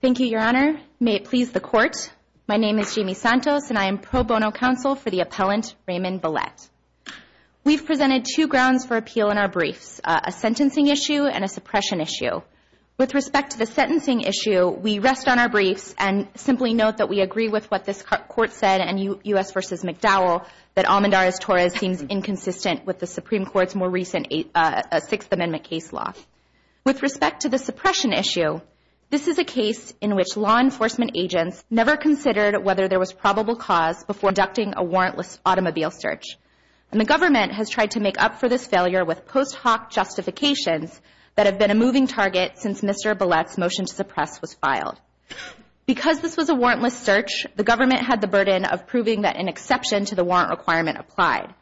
Thank you, Your Honor. May it please the Court. My name is Jamie Santos, and I am pro bono counsel for the appellant Raymond Bullette. We've presented two grounds for appeal in our briefs, a sentencing issue and a suppression issue. With respect to the sentencing issue, we rest on our briefs and simply note that we agree with what this Court said in U.S. v. McDowell that Almendarez-Torres seems inconsistent with the Supreme Court's more recent Sixth Amendment case law. With respect to the suppression issue, this is a case in which law enforcement agents never considered whether there was probable cause before conducting a warrantless automobile search, and the government has tried to make up for this failure with post hoc justifications that have been a moving target since Mr. Bullette's motion to suppress was filed. Because this was a warrantless search, the government had the burden of proving that an exception to the warrant requirement applied,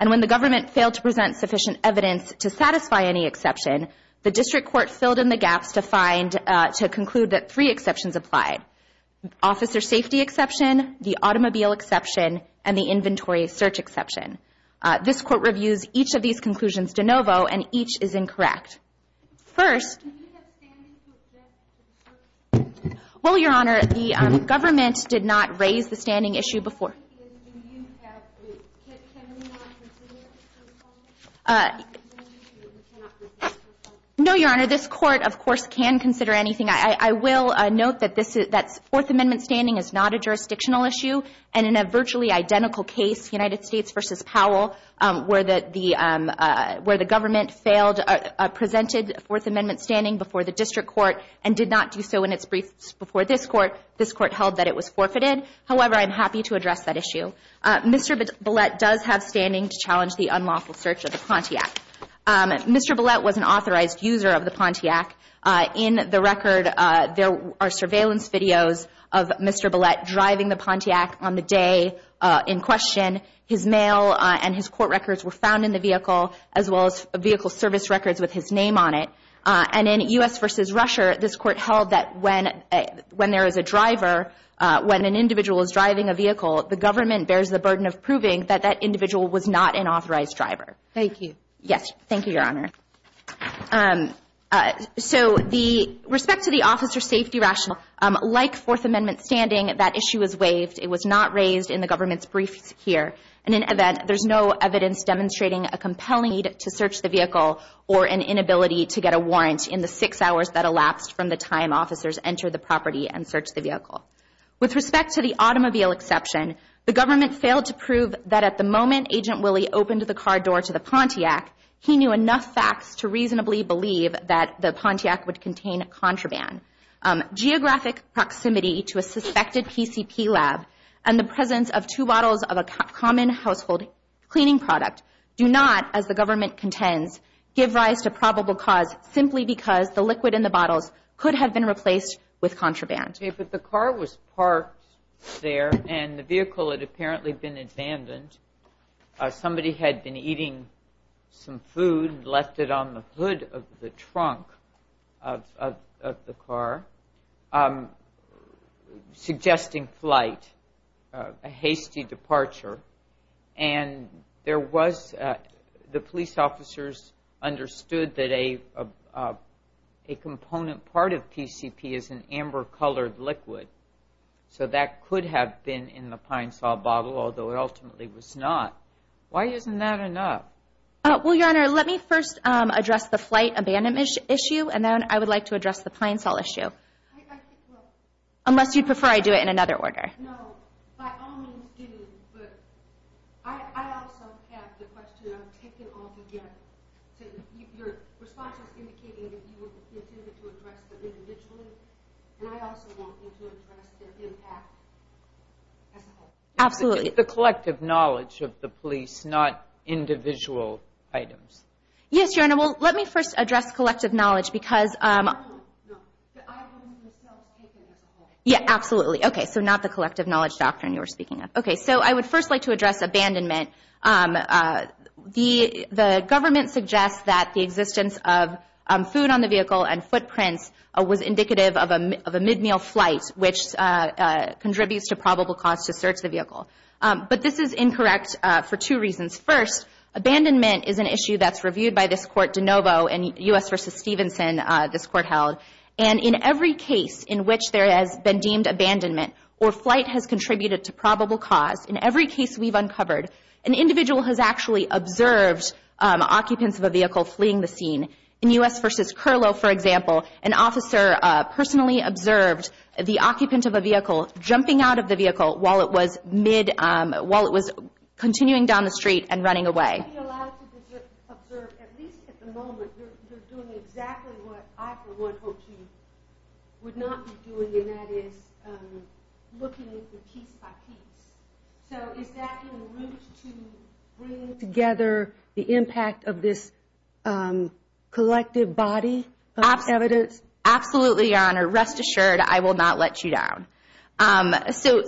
and when the government failed to present sufficient evidence to satisfy any exception, the District Court filled in the gaps to find, to conclude that three exceptions applied, officer safety exception, the automobile exception, and the inventory search exception. This Court reviews each of these conclusions de novo, and each is incorrect. First... Can you have standing to object to the search? Well, Your Honor, the government did not raise the standing issue before. Can we not consider it? No, Your Honor. This Court, of course, can consider anything. I will note that Fourth Amendment standing is not a jurisdictional issue, and in a virtually identical case, United States v. Powell, where the government presented Fourth Amendment standing before the District Court and did not do so in its briefs before this Court, this Court held that it was forfeited. However, I'm happy to address that issue. Mr. Ballett does have standing to challenge the unlawful search of the Pontiac. Mr. Ballett was an authorized user of the Pontiac. In the record, there are surveillance videos of Mr. Ballett driving the Pontiac on the day in question. His mail and his court records were found in the vehicle, as well as vehicle service records with his name on it. And in U.S. v. Russia, this Court held that when there is a driver, when an individual is driving a vehicle, the government bears the burden of proving that that individual was not an authorized driver. Thank you. Yes. Thank you, Your Honor. So the respect to the officer safety rationale, like Fourth Amendment standing, that issue is waived. It was not raised in the government's briefs here. In an event, there's no evidence demonstrating a compelling need to search the vehicle or an inability to get a warrant in the six hours that elapsed from the time officers entered the property and searched the vehicle. With respect to the automobile exception, the government failed to prove that at the moment Agent Willie opened the car door to the Pontiac, he knew enough facts to reasonably believe that the Pontiac would contain contraband. Geographic proximity to a suspected PCP lab and the presence of two bottles of a common household cleaning product do not, as the government contends, give rise to probable cause, simply because the liquid in the bottles could have been replaced with contraband. Okay, but the car was parked there, and the vehicle had apparently been abandoned. Somebody had been eating some food and left it on the hood of the trunk of the car, suggesting flight, a hasty departure. And the police officers understood that a component part of PCP is an amber-colored liquid, so that could have been in the Pine-Sol bottle, although it ultimately was not. Why isn't that enough? Well, Your Honor, let me first address the flight abandonment issue, and then I would like to address the Pine-Sol issue, unless you'd prefer I do it in another order. No, by all means do, but I also have the question I'm taking altogether. Your response was indicating that you intended to address them individually, and I also want you to address their impact as a whole. Absolutely. It's the collective knowledge of the police, not individual items. Yes, Your Honor, well, let me first address collective knowledge, because... No, no, the item was taken as a whole. Yeah, absolutely. Okay, so not the collective knowledge doctrine you were speaking of. Okay, so I would first like to address abandonment. The government suggests that the existence of food on the vehicle and footprints was indicative of a mid-meal flight, which contributes to probable cause to search the vehicle. But this is incorrect for two reasons. First, abandonment is an issue that's reviewed by this court, DeNovo, and U.S. v. Stevenson, this court held. And in every case in which there has been deemed abandonment or flight has contributed to probable cause, in every case we've uncovered, an individual has actually observed occupants of a vehicle fleeing the scene. In U.S. v. Curlow, for example, an officer personally observed the occupant of a vehicle jumping out of the vehicle while it was continuing down the street and running away. You would be allowed to observe, at least at the moment, you're doing exactly what I, for one, hope you would not be doing, and that is looking at it piece by piece. So is that in route to bringing together the impact of this collective body of evidence? Absolutely, Your Honor. Rest assured, I will not let you down. So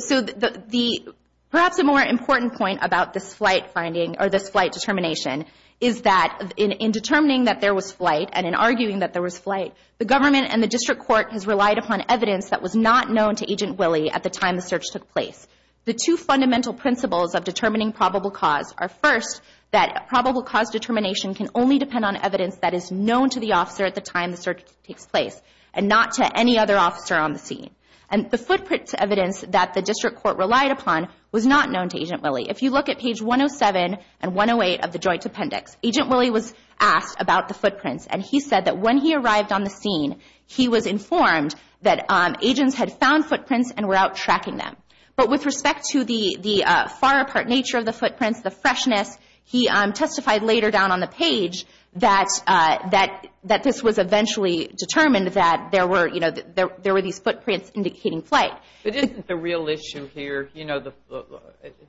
perhaps a more important point about this flight finding or this flight determination is that in determining that there was flight and in arguing that there was flight, the government and the district court has relied upon evidence that was not known to Agent Willie at the time the search took place. The two fundamental principles of determining probable cause are, first, that probable cause determination can only depend on evidence that is known to the officer at the time the search takes place and not to any other officer on the scene. And the footprint evidence that the district court relied upon was not known to Agent Willie. If you look at page 107 and 108 of the joint appendix, Agent Willie was asked about the footprints, and he said that when he arrived on the scene, he was informed that agents had found footprints and were out tracking them. But with respect to the far apart nature of the footprints, the freshness, he testified later down on the page that this was eventually determined that there were these footprints indicating flight. But isn't the real issue here, you know,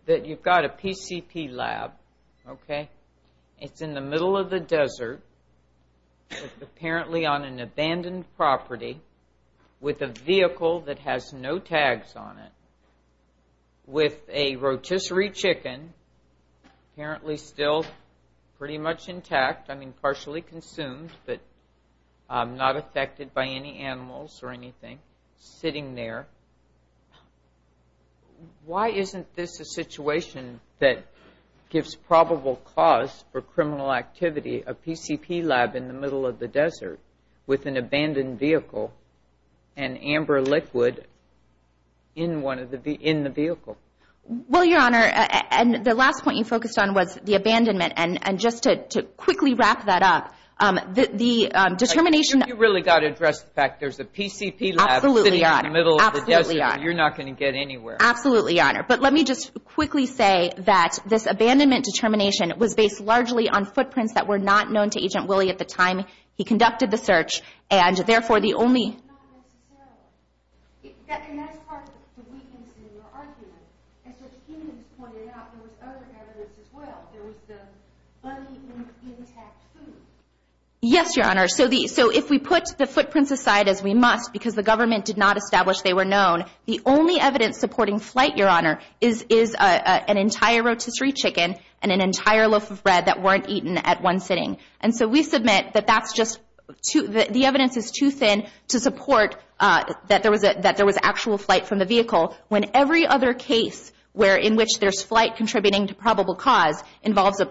that you've got a PCP lab, okay? It's in the middle of the desert, apparently on an abandoned property, with a vehicle that has no tags on it, with a rotisserie chicken, apparently still pretty much intact, I mean, partially consumed, but not affected by any animals or anything, sitting there. Why isn't this a situation that gives probable cause for criminal activity, a PCP lab in the middle of the desert with an abandoned vehicle and amber liquid in the vehicle? Well, Your Honor, and the last point you focused on was the abandonment. And just to quickly wrap that up, the determination that you really got to address the fact there's a PCP lab sitting in the middle of the desert, you're not going to get anywhere. Absolutely, Your Honor. But let me just quickly say that this abandonment determination was based largely on footprints that were not known to Agent Willie at the time he conducted the search, and therefore the only And that's part of the weakness in your argument. As your team has pointed out, there was other evidence as well. There was the uneaten, intact food. Yes, Your Honor. So if we put the footprints aside, as we must, because the government did not establish they were known, the only evidence supporting flight, Your Honor, is an entire rotisserie chicken and an entire loaf of bread that weren't eaten at one sitting. And so we submit that the evidence is too thin to support that there was actual flight from the vehicle when every other case in which there's flight contributing to probable cause involves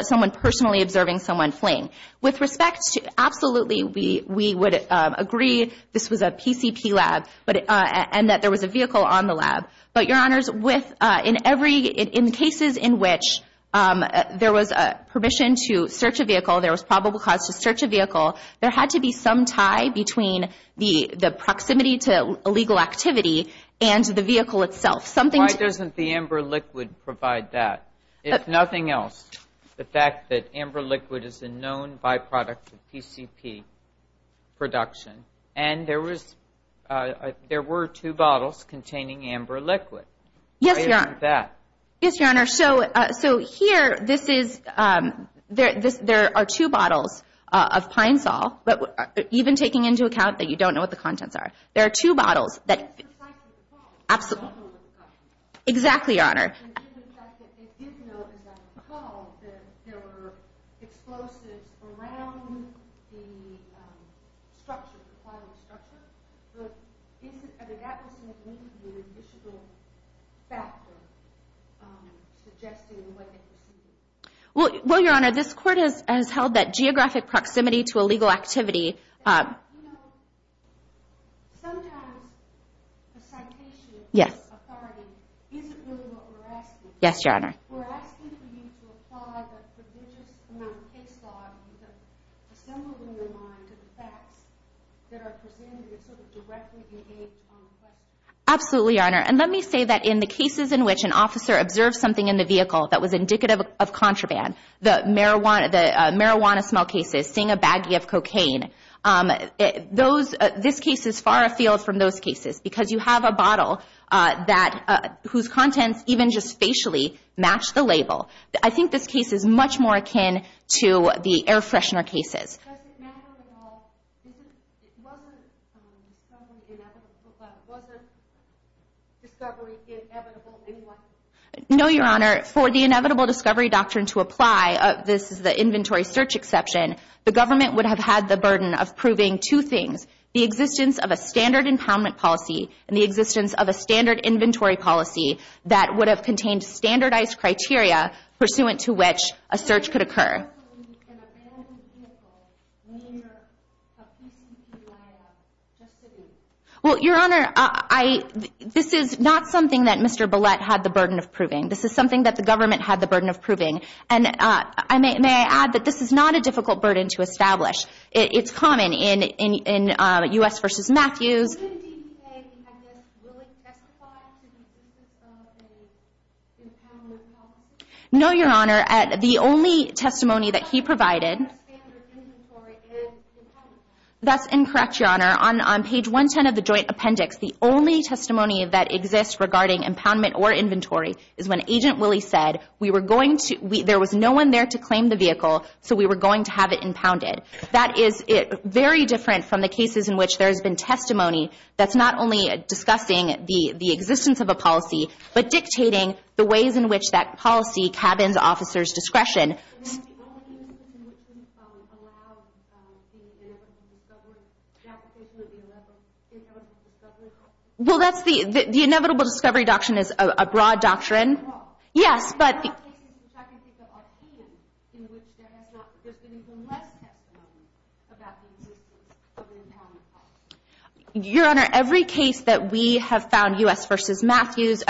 someone personally observing someone fleeing. With respect, absolutely, we would agree this was a PCP lab and that there was a vehicle on the lab. But, Your Honors, in cases in which there was permission to search a vehicle, there was probable cause to search a vehicle, there had to be some tie between the proximity to illegal activity and the vehicle itself. Why doesn't the amber liquid provide that? If nothing else, the fact that amber liquid is a known byproduct of PCP production, and there were two bottles containing amber liquid. Yes, Your Honor. Why isn't that? Yes, Your Honor. So here this is, there are two bottles of Pine Sol, even taking into account that you don't know what the contents are. There are two bottles that, absolutely. Exactly, Your Honor. Well, Your Honor, this court has held that geographic proximity to illegal activity. You know, sometimes the citation of this authority isn't really what we're asking for. Yes, Your Honor. We're asking for you to apply the prodigious amount of case law that you have assembled in your mind to the facts that are presented and sort of directly engaged on the question. Absolutely, Your Honor. And let me say that in the cases in which an officer observed something in the vehicle that was indicative of contraband, the marijuana smell cases, seeing a baggie of cocaine, this case is far afield from those cases because you have a bottle whose contents even just facially match the label. I think this case is much more akin to the air freshener cases. No, Your Honor. For the inevitable discovery doctrine to apply, this is the inventory search exception, the government would have had the burden of proving two things, the existence of a standard impoundment policy and the existence of a standard inventory policy that would have contained standardized criteria pursuant to which a search could occur. Well, Your Honor, this is not something that Mr. Bullett had the burden of proving. This is something that the government had the burden of proving. And may I add that this is not a difficult burden to establish. It's common in U.S. v. Matthews. No, Your Honor. The only testimony that he provided... That's incorrect, Your Honor. On page 110 of the joint appendix, the only testimony that exists regarding impoundment or inventory is when Agent Willie said there was no one there to claim the vehicle, so we were going to have it impounded. That is very different from the cases in which there has been testimony that's not only discussing the existence of a policy, but dictating the ways in which that policy cabins officers' discretion. Well, that's the... The inevitable discovery doctrine is a broad doctrine. Yes, but... Your Honor, every case that we have found, U.S. v. Matthews,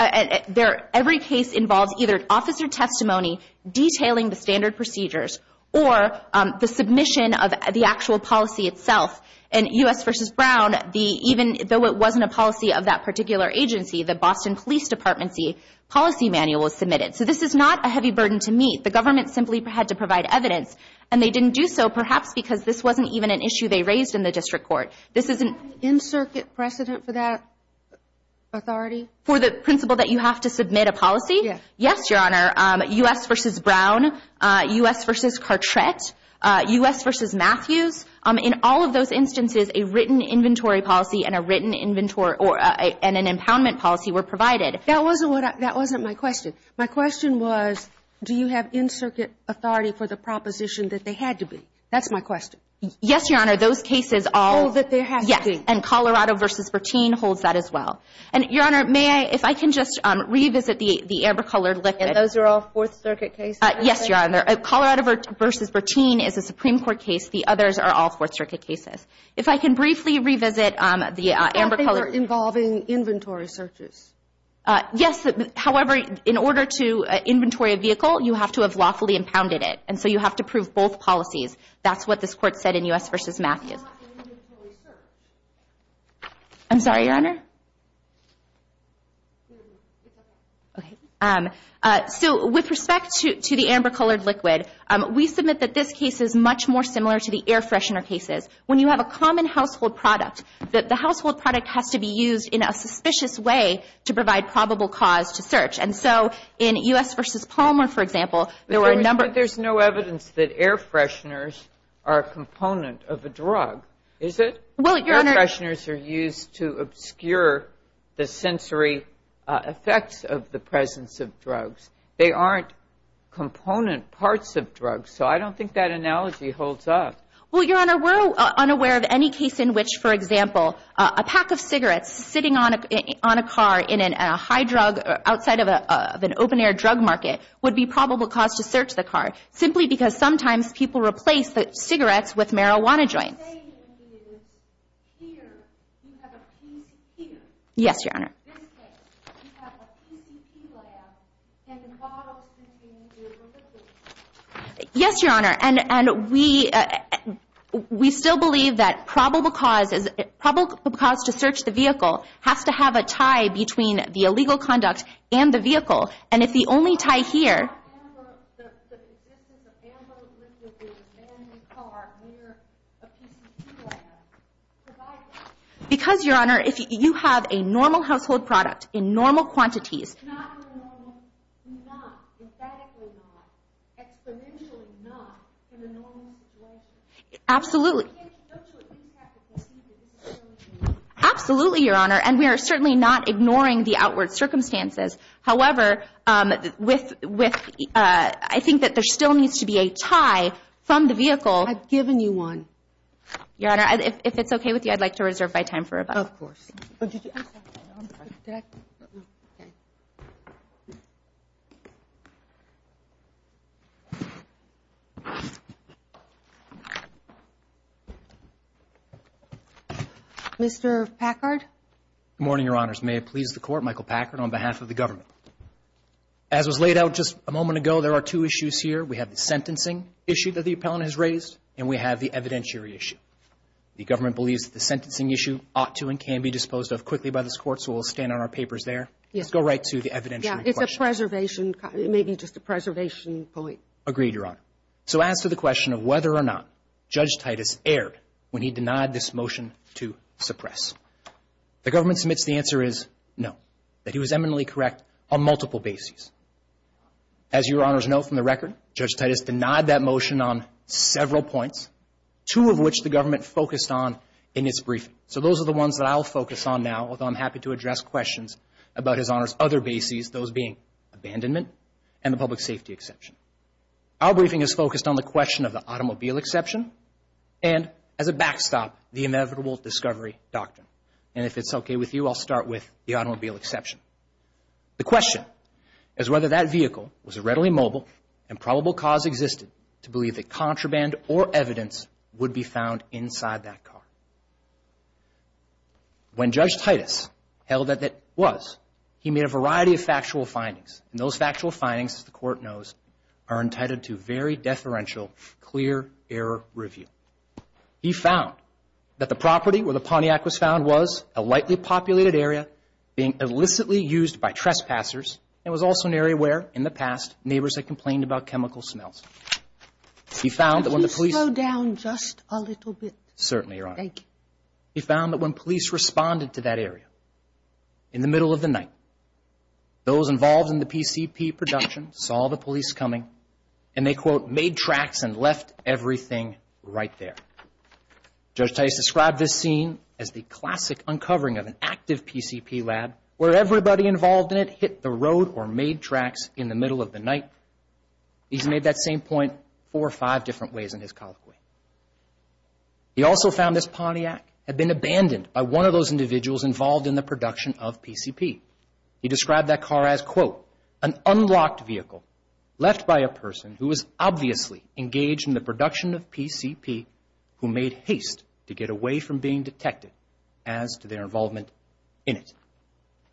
every case involves either an officer testimony detailing the standard procedures or the submission of the actual policy itself. And U.S. v. Brown, even though it wasn't a policy of that particular agency, the Boston Police Department's policy manual was submitted. So this is not a heavy burden to meet. The government simply had to provide evidence, and they didn't do so perhaps because this wasn't even an issue they raised in the district court. This is an... In-circuit precedent for that authority? For the principle that you have to submit a policy? Yes. Yes, Your Honor. U.S. v. Brown, U.S. v. Cartret, U.S. v. Matthews, in all of those instances, a written inventory policy and a written inventory or an impoundment policy were provided. That wasn't what I... That wasn't my question. My question was, do you have in-circuit authority for the proposition that they had to be? That's my question. Yes, Your Honor. Those cases all... Oh, that there has to be. Yes. And Colorado v. Bertine holds that as well. And, Your Honor, may I... If I can just revisit the Abercolor liquid. And those are all Fourth Circuit cases? Yes, Your Honor. Colorado v. Bertine is a Supreme Court case. The others are all Fourth Circuit cases. If I can briefly revisit the Abercolor... I thought they were involving inventory searches. Yes. However, in order to inventory a vehicle, you have to have lawfully impounded it. And so you have to prove both policies. That's what this Court said in U.S. v. Matthews. It's not an inventory search. I'm sorry, Your Honor? It's okay. Okay. So with respect to the Abercolor liquid, we submit that this case is much more similar to the air freshener cases. When you have a common household product, the household product has to be used in a suspicious way to provide probable cause to search. And so in U.S. v. Palmer, for example, there were a number... But there's no evidence that air fresheners are a component of a drug, is it? Well, Your Honor... Air fresheners are used to obscure the sensory effects of the presence of drugs. They aren't component parts of drugs. So I don't think that analogy holds up. Well, Your Honor, we're unaware of any case in which, for example, a pack of cigarettes sitting on a car in a high drug, outside of an open-air drug market, would be probable cause to search the car, simply because sometimes people replace the cigarettes with marijuana joints. What I'm saying is, here, you have a PCP. Yes, Your Honor. In this case, you have a PCP lab, and the bottles can be in the vehicle liquid. Yes, Your Honor. And we still believe that probable cause to search the vehicle has to have a tie between the illegal conduct and the vehicle. And if the only tie here... ...the existence of ammo liquid in the car near a PCP lab provides... Because, Your Honor, if you have a normal household product in normal quantities... ...not in a normal, not, emphatically not, exponentially not, in a normal situation. Absolutely. Don't you at least have to perceive that this is really normal? Absolutely, Your Honor. And we are certainly not ignoring the outward circumstances. However, I think that there still needs to be a tie from the vehicle. I've given you one. Your Honor, if it's okay with you, I'd like to reserve my time for a moment. Of course. Mr. Packard? Good morning, Your Honors. May it please the Court, Michael Packard on behalf of the government. As was laid out just a moment ago, there are two issues here. We have the sentencing issue that the appellant has raised, and we have the evidentiary issue. The government believes that the sentencing issue ought to and can be disposed of quickly by this Court, so we'll stand on our papers there. Yes. Let's go right to the evidentiary question. Yeah, it's a preservation, maybe just a preservation point. Agreed, Your Honor. So as to the question of whether or not Judge Titus erred when he denied this motion to suppress, the government submits the answer is no, that he was eminently correct on multiple bases. As Your Honors know from the record, Judge Titus denied that motion on several points, two of which the government focused on in its briefing. So those are the ones that I'll focus on now, although I'm happy to address questions about His Honor's other bases, those being abandonment and the public safety exception. Our briefing is focused on the question of the automobile exception and, as a backstop, the inevitable discovery doctrine. And if it's okay with you, I'll start with the automobile exception. The question is whether that vehicle was readily mobile and probable cause existed to believe that contraband or evidence would be found inside that car. When Judge Titus held that it was, he made a variety of factual findings, and those factual findings, as the Court knows, are entitled to very deferential, clear error review. He found that the property where the Pontiac was found was a lightly populated area being illicitly used by trespassers and was also an area where, in the past, neighbors had complained about chemical smells. He found that when the police... Could you slow down just a little bit? Certainly, Your Honor. Thank you. He found that when police responded to that area in the middle of the night, those involved in the PCP production saw the police coming and they, quote, made tracks and left everything right there. Judge Titus described this scene as the classic uncovering of an active PCP lab where everybody involved in it hit the road or made tracks in the middle of the night. He's made that same point four or five different ways in his colloquy. He also found this Pontiac had been abandoned by one of those individuals involved in the production of PCP. He described that car as, quote, an unlocked vehicle left by a person who was obviously engaged in the production of PCP who made haste to get away from being detected as to their involvement in it.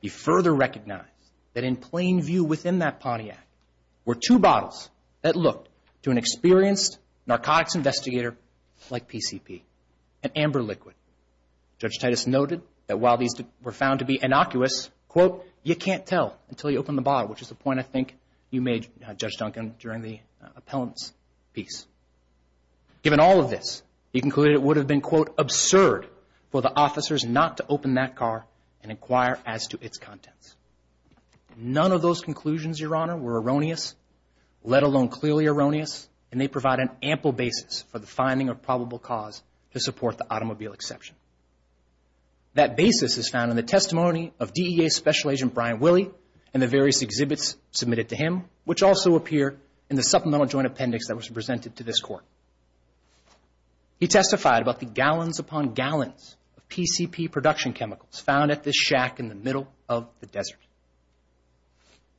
He further recognized that in plain view within that Pontiac were two bottles that looked to an experienced narcotics investigator like PCP, an amber liquid. Judge Titus noted that while these were found to be innocuous, quote, you can't tell until you open the bottle, which is the point I think you made, Judge Duncan, during the appellant's piece. Given all of this, he concluded it would have been, quote, absurd for the officers not to open that car and inquire as to its contents. None of those conclusions, Your Honor, were erroneous, let alone clearly erroneous, and they provide an ample basis for the finding of probable cause to support the automobile exception. That basis is found in the testimony of DEA Special Agent Brian Willey and the various exhibits submitted to him, which also appear in the supplemental joint appendix that was presented to this Court. He testified about the gallons upon gallons of PCP production chemicals found at this shack in the middle of the desert.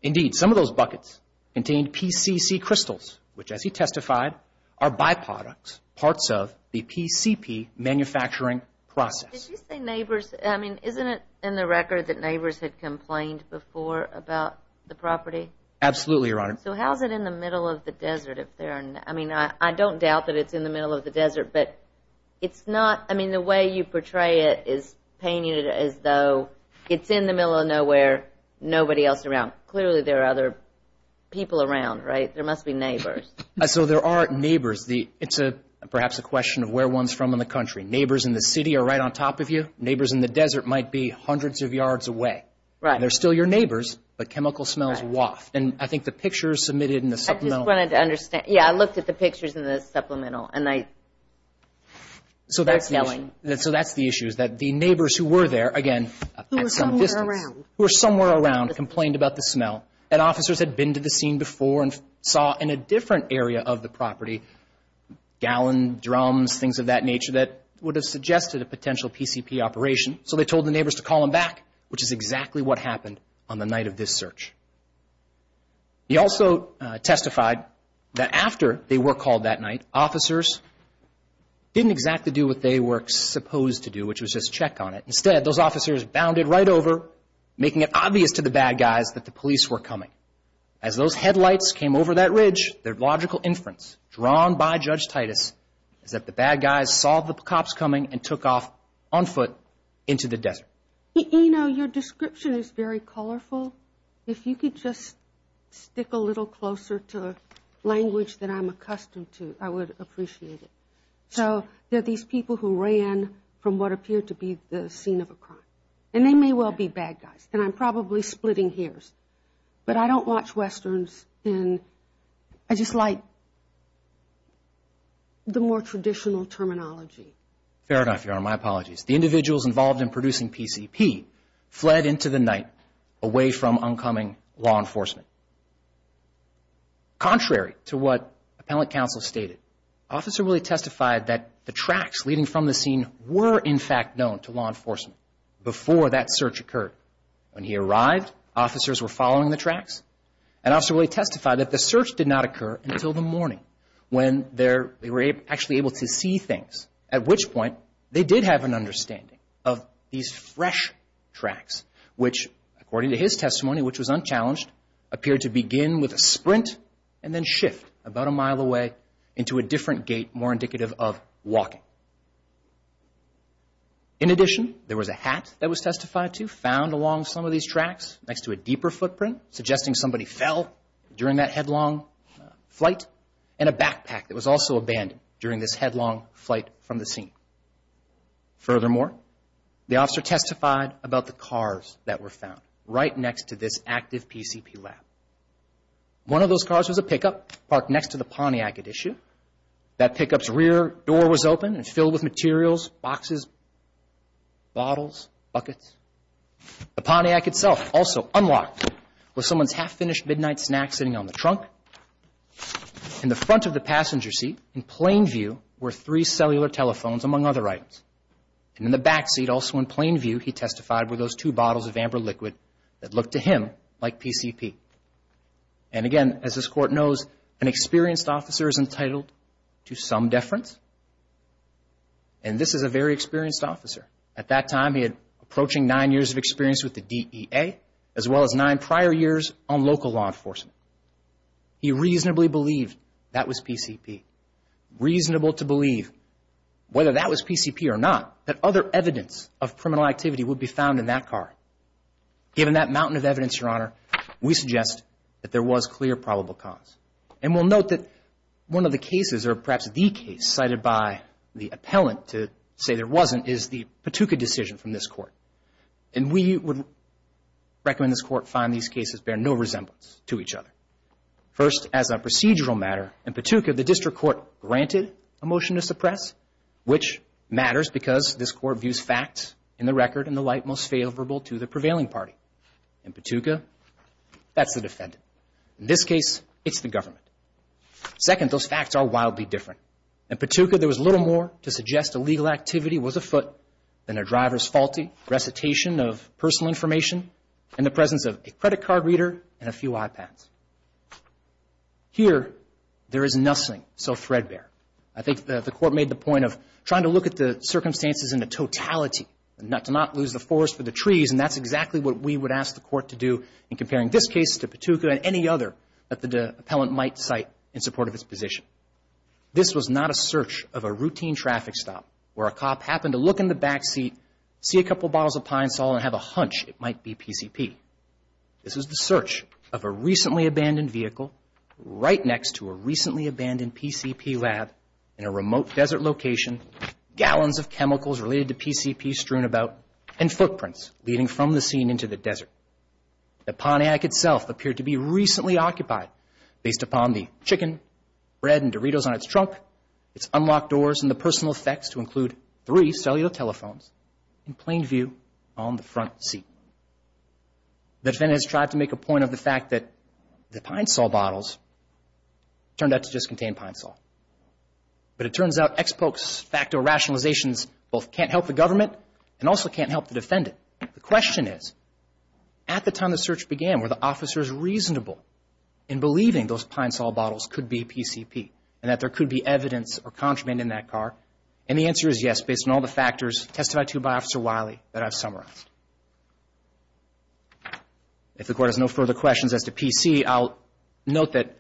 Indeed, some of those buckets contained PCC crystals, which, as he testified, are byproducts, parts of the PCP manufacturing process. Did you say neighbors? I mean, isn't it in the record that neighbors had complained before about the property? Absolutely, Your Honor. So how is it in the middle of the desert if there are, I mean, I don't doubt that it's in the middle of the desert, but it's not, I mean, the way you portray it is painting it as though it's in the middle of nowhere, nobody else around. Clearly there are other people around, right? There must be neighbors. So there are neighbors. It's perhaps a question of where one's from in the country. Neighbors in the city are right on top of you. Neighbors in the desert might be hundreds of yards away. They're still your neighbors, but chemical smells waft. And I think the pictures submitted in the supplemental. Yeah, I looked at the pictures in the supplemental, and they're telling. So that's the issue. So that's the issue is that the neighbors who were there, again, at some distance. Who were somewhere around. Who were somewhere around, complained about the smell. And officers had been to the scene before and saw in a different area of the property, gallon, drums, things of that nature, that would have suggested a potential PCP operation. So they told the neighbors to call them back, which is exactly what happened on the night of this search. He also testified that after they were called that night, officers didn't exactly do what they were supposed to do, which was just check on it. Instead, those officers bounded right over, making it obvious to the bad guys that the police were coming. As those headlights came over that ridge, their logical inference, drawn by Judge Titus, is that the bad guys saw the cops coming and took off on foot into the desert. You know, your description is very colorful. If you could just stick a little closer to the language that I'm accustomed to, I would appreciate it. So there are these people who ran from what appeared to be the scene of a crime. And they may well be bad guys. And I'm probably splitting hairs. But I don't watch Westerns and I just like the more traditional terminology. Fair enough, Your Honor. My apologies. The individuals involved in producing PCP fled into the night, away from oncoming law enforcement. Contrary to what Appellant Counsel stated, Officer Willie testified that the tracks leading from the scene were in fact known to law enforcement before that search occurred. When he arrived, officers were following the tracks. And Officer Willie testified that the search did not occur until the morning when they were actually able to see things, at which point they did have an understanding of these fresh tracks, which, according to his testimony, which was unchallenged, appeared to begin with a sprint and then shift about a mile away into a different gate, more indicative of walking. In addition, there was a hat that was testified to, found along some of these tracks next to a deeper footprint, suggesting somebody fell during that headlong flight, and a backpack that was also abandoned during this headlong flight from the scene. Furthermore, the officer testified about the cars that were found, right next to this active PCP lab. One of those cars was a pickup parked next to the Pontiac at issue. That pickup's rear door was open and filled with materials, boxes, bottles, buckets. The Pontiac itself, also unlocked, was someone's half-finished midnight snack sitting on the trunk. In the front of the passenger seat, in plain view, were three cellular telephones, among other items. And in the back seat, also in plain view, he testified were those two bottles of amber liquid that looked to him like PCP. And again, as this Court knows, an experienced officer is entitled to some deference, and this is a very experienced officer. At that time, he had approaching nine years of experience with the DEA, as well as nine prior years on local law enforcement. He reasonably believed that was PCP. Reasonable to believe, whether that was PCP or not, that other evidence of criminal activity would be found in that car. Given that mountain of evidence, Your Honor, we suggest that there was clear probable cause. And we'll note that one of the cases, or perhaps the case, cited by the appellant to say there wasn't, is the Patuka decision from this Court. And we would recommend this Court find these cases bear no resemblance to each other. First, as a procedural matter, in Patuka, the District Court granted a motion to suppress, which matters because this Court views facts in the record in the light most favorable to the prevailing party. In Patuka, that's the defendant. In this case, it's the government. Second, those facts are wildly different. In Patuka, there was little more to suggest illegal activity was afoot than a driver's faulty recitation of personal information in the presence of a credit card reader and a few iPads. Here, there is nothing so threadbare. I think the Court made the point of trying to look at the circumstances in the totality, to not lose the forest for the trees, and that's exactly what we would ask the Court to do in comparing this case to Patuka and any other that the appellant might cite in support of its position. This was not a search of a routine traffic stop where a cop happened to look in the back seat, see a couple bottles of Pine Sol, and have a hunch it might be PCP. This was the search of a recently abandoned vehicle right next to a recently abandoned PCP lab in a remote desert location, gallons of chemicals related to PCP strewn about, and footprints leading from the scene into the desert. The Pontiac itself appeared to be recently occupied based upon the chicken, bread, and Doritos on its trunk, its unlocked doors, and the personal effects to include three cellular telephones in plain view on the front seat. The defendant has tried to make a point of the fact that the Pine Sol bottles turned out to just contain Pine Sol. But it turns out ex poc facto rationalizations both can't help the government and also can't help the defendant. The question is, at the time the search began, were the officers reasonable in believing those Pine Sol bottles could be PCP and that there could be evidence or contraband in that car? And the answer is yes, based on all the factors tested by Officer Wiley that I've summarized. If the Court has no further questions as to PC, I'll note that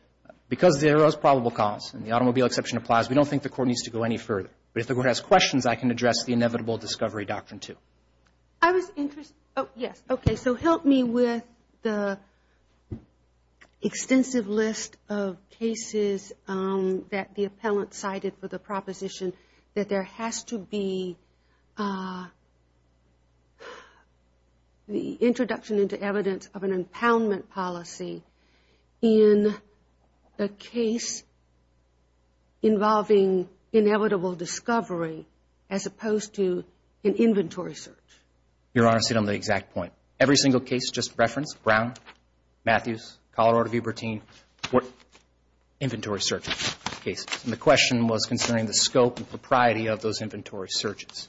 because there is probable cause and the automobile exception applies, we don't think the Court needs to go any further. But if the Court has questions, I can address the inevitable discovery doctrine too. I was interested – oh, yes. Okay, so help me with the extensive list of cases that the appellant cited for the proposition that there has to be the introduction into evidence of an impoundment policy in a case involving inevitable discovery as opposed to an inventory search. Your Honor, see, I'm on the exact point. Every single case, just reference, Brown, Matthews, Colorado v. Bertin, inventory search cases. And the question was concerning the scope and propriety of those inventory searches.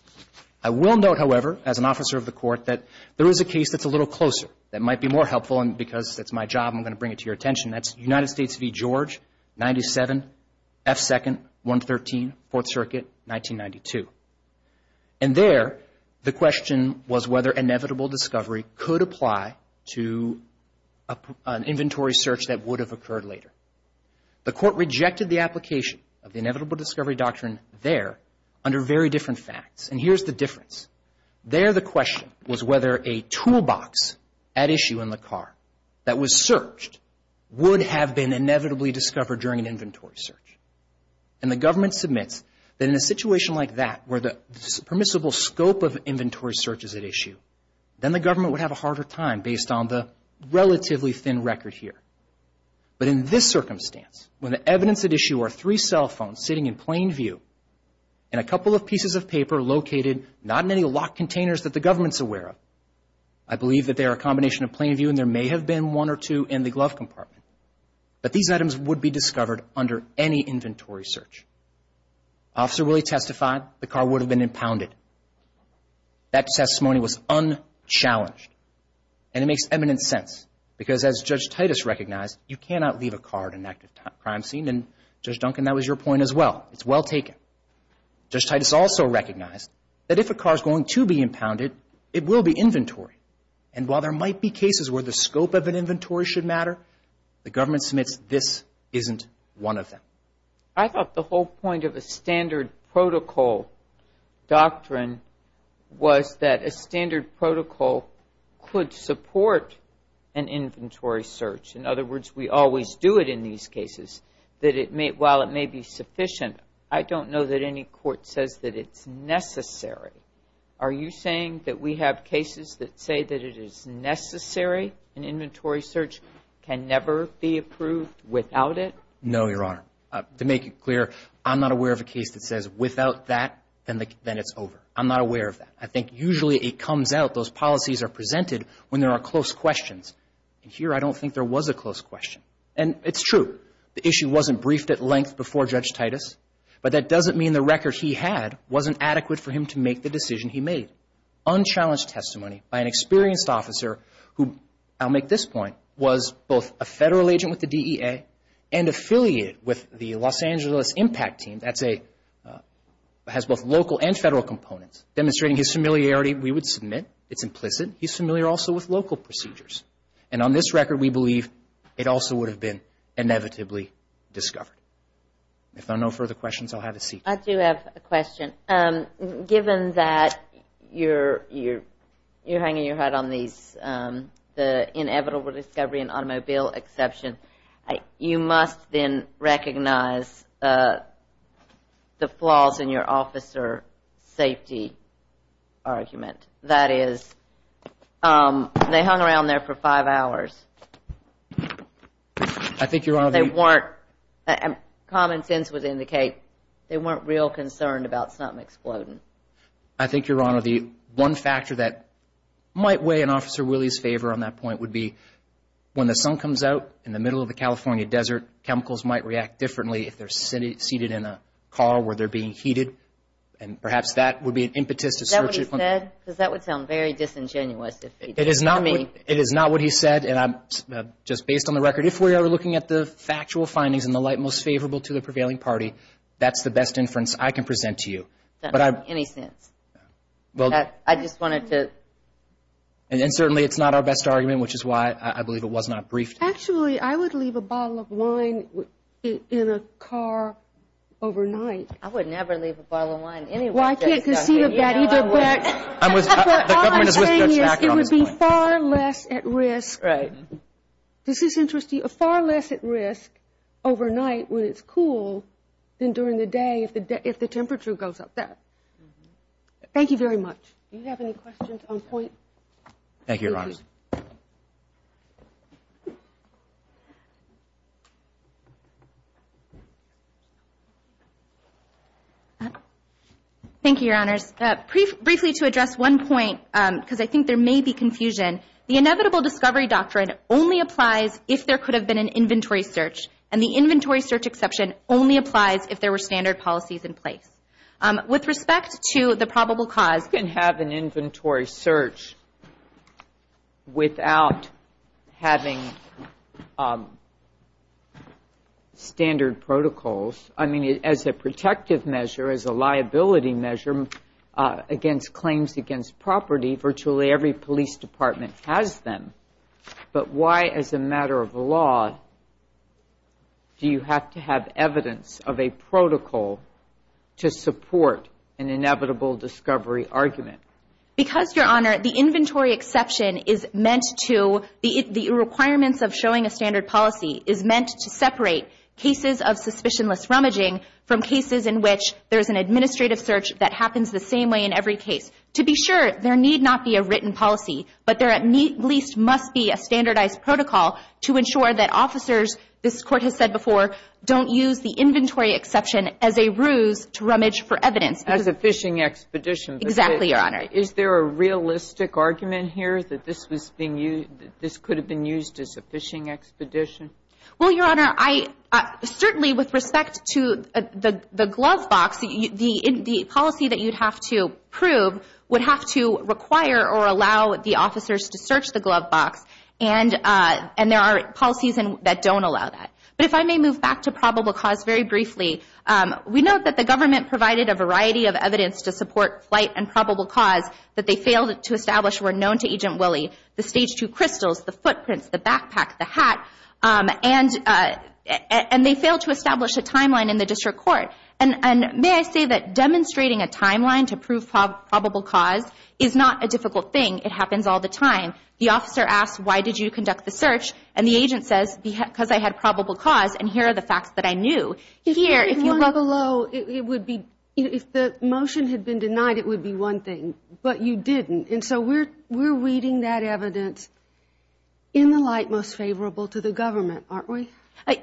I will note, however, as an officer of the Court, that there is a case that's a little closer that might be more helpful and because it's my job, I'm going to bring it to your attention. That's United States v. George, 97, F-2nd, 113, Fourth Circuit, 1992. And there, the question was whether inevitable discovery could apply to an inventory search that would have occurred later. The Court rejected the application of the inevitable discovery doctrine there under very different facts. And here's the difference. There, the question was whether a toolbox at issue in the car that was searched would have been inevitably discovered during an inventory search. And the government submits that in a situation like that where the permissible scope of inventory search is at issue, then the government would have a harder time based on the relatively thin record here. But in this circumstance, when the evidence at issue are three cell phones sitting in plain view and a couple of pieces of paper located not in any locked containers that the government's aware of, I believe that they are a combination of plain view and there may have been one or two in the glove compartment, that these items would be discovered under any inventory search. Officer Willie testified the car would have been impounded. That testimony was unchallenged. And it makes eminent sense because, as Judge Titus recognized, you cannot leave a car at an active crime scene. And, Judge Duncan, that was your point as well. It's well taken. Judge Titus also recognized that if a car is going to be impounded, it will be inventory. And while there might be cases where the scope of an inventory should matter, the government submits this isn't one of them. I thought the whole point of a standard protocol doctrine was that a standard protocol could support an inventory search. In other words, we always do it in these cases. That while it may be sufficient, I don't know that any court says that it's necessary. Are you saying that we have cases that say that it is necessary, an inventory search can never be approved without it? No, Your Honor. To make it clear, I'm not aware of a case that says, without that, then it's over. I'm not aware of that. I think usually it comes out, those policies are presented, when there are close questions. And here I don't think there was a close question. And it's true. The issue wasn't briefed at length before Judge Titus, but that doesn't mean the record he had wasn't adequate for him to make the decision he made. Unchallenged testimony by an experienced officer who, I'll make this point, was both a Federal agent with the DEA and affiliated with the Los Angeles Impact Team. That's a, has both local and Federal components. Demonstrating his familiarity, we would submit, it's implicit. He's familiar also with local procedures. And on this record, we believe it also would have been inevitably discovered. If there are no further questions, I'll have a seat. I do have a question. Given that you're hanging your head on these, the inevitable discovery and automobile exception, you must then recognize the flaws in your officer safety argument. That is, they hung around there for five hours. I think, Your Honor. They weren't, common sense would indicate, they weren't real concerned about something exploding. I think, Your Honor, the one factor that might weigh in Officer Willie's favor on that point would be, when the sun comes out in the middle of the California desert, chemicals might react differently if they're seated in a car where they're being heated. And perhaps that would be an impetus. Is that what he said? Because that would sound very disingenuous. It is not what he said. And just based on the record, if we are looking at the factual findings in the light most favorable to the prevailing party, that's the best inference I can present to you. That doesn't make any sense. I just wanted to. And certainly, it's not our best argument, which is why I believe it was not briefed. Actually, I would leave a bottle of wine in a car overnight. I would never leave a bottle of wine anywhere. Well, I can't conceive of that either, but what I'm saying is it would be far less at risk. Right. This is interesting. Far less at risk overnight when it's cool than during the day if the temperature goes up. Thank you very much. Thank you, Your Honor. Thank you, Your Honors. Briefly to address one point, because I think there may be confusion. The inevitable discovery doctrine only applies if there could have been an inventory search, and the inventory search exception only applies if there were standard policies in place. With respect to the probable cause. You can have an inventory search without having standard protocols. I mean, as a protective measure, as a liability measure against claims against property, virtually every police department has them. But why, as a matter of law, do you have to have evidence of a protocol to support an inevitable discovery argument? Because, Your Honor, the inventory exception is meant to, the requirements of showing a standard policy, is meant to separate cases of suspicionless rummaging from cases in which there's an administrative search that happens the same way in every case. To be sure, there need not be a written policy, but there at least must be a standardized protocol to ensure that officers, this Court has said before, don't use the inventory exception as a ruse to rummage for evidence. As a fishing expedition. Exactly, Your Honor. Is there a realistic argument here that this could have been used as a fishing expedition? Well, Your Honor, certainly with respect to the glove box, the policy that you'd have to prove would have to require or allow the officers to search the glove box, and there are policies that don't allow that. But if I may move back to probable cause very briefly, we note that the government provided a variety of evidence to support flight and probable cause that they failed to establish were known to Agent Willie. The stage two crystals, the footprints, the backpack, the hat, and they failed to establish a timeline in the district court. And may I say that demonstrating a timeline to prove probable cause is not a difficult thing. It happens all the time. The officer asks, why did you conduct the search? And the agent says, because I had probable cause, and here are the facts that I knew. If the motion had been denied, it would be one thing, but you didn't. And so we're reading that evidence in the light most favorable to the government, aren't we?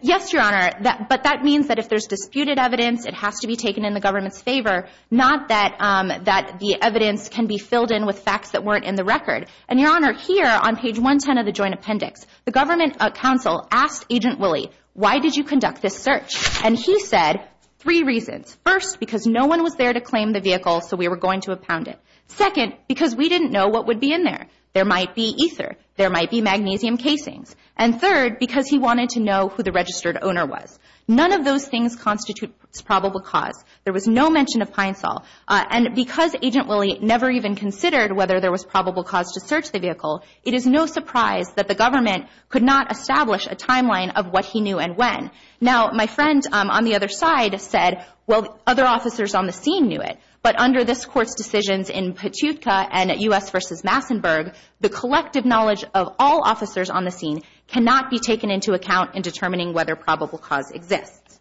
Yes, Your Honor, but that means that if there's disputed evidence, it has to be taken in the government's favor, not that the evidence can be filled in with facts that weren't in the record. And, Your Honor, here on page 110 of the joint appendix, the government counsel asked Agent Willie, why did you conduct this search? And he said three reasons. First, because no one was there to claim the vehicle, so we were going to abound it. Second, because we didn't know what would be in there. There might be ether. There might be magnesium casings. And third, because he wanted to know who the registered owner was. None of those things constitute probable cause. There was no mention of Pine Sol. And because Agent Willie never even considered whether there was probable cause to search the vehicle, it is no surprise that the government could not establish a timeline of what he knew and when. Now, my friend on the other side said, well, other officers on the scene knew it. But under this Court's decisions in Petutka and at U.S. v. Massenburg, the collective knowledge of all officers on the scene cannot be taken into account in determining whether probable cause exists.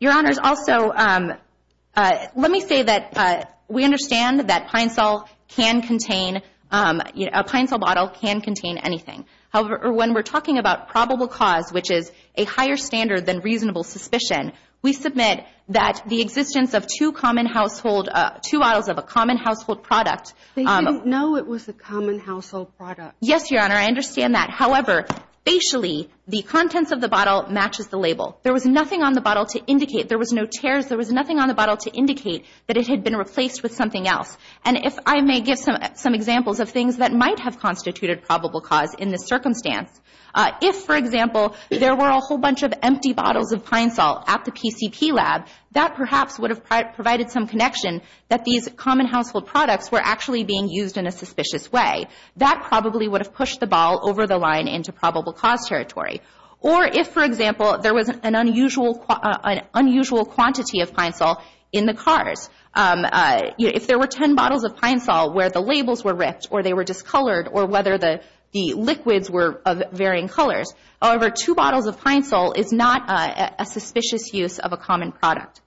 Your Honors, also let me say that we understand that Pine Sol can contain, a Pine Sol bottle can contain anything. However, when we're talking about probable cause, which is a higher standard than reasonable suspicion, we submit that the existence of two common household, two bottles of a common household product. They didn't know it was a common household product. Yes, Your Honor. I understand that. However, facially, the contents of the bottle matches the label. There was nothing on the bottle to indicate, there was no tears, there was nothing on the bottle to indicate that it had been replaced with something else. And if I may give some examples of things that might have constituted probable cause in this circumstance. If, for example, there were a whole bunch of empty bottles of Pine Sol at the PCP lab, that perhaps would have provided some connection that these common household products were actually being used in a suspicious way. That probably would have pushed the ball over the line into probable cause territory. Or if, for example, there was an unusual quantity of Pine Sol in the cars. If there were ten bottles of Pine Sol where the labels were ripped, or they were discolored, or whether the liquids were of varying colors. However, two bottles of Pine Sol is not a suspicious use of a common product.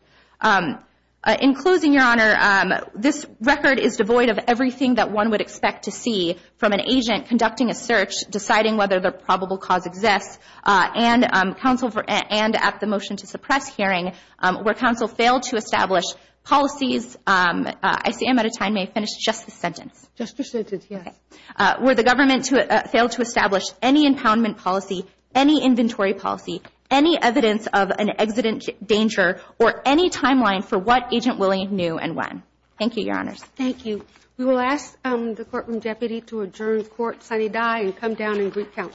In closing, Your Honor, this record is devoid of everything that one would expect to see from an agent conducting a search, deciding whether the probable cause exists, and at the motion to suppress hearing, where counsel failed to establish policies. I see I'm out of time. May I finish just this sentence? Just this sentence, yes. Okay. Where the government failed to establish any impoundment policy, any inventory policy, any evidence of an exigent danger, or any timeline for what Agent Williams knew and when. Thank you, Your Honors. Thank you. We will ask the courtroom deputy to adjourn court, sign a die, and come down and recount.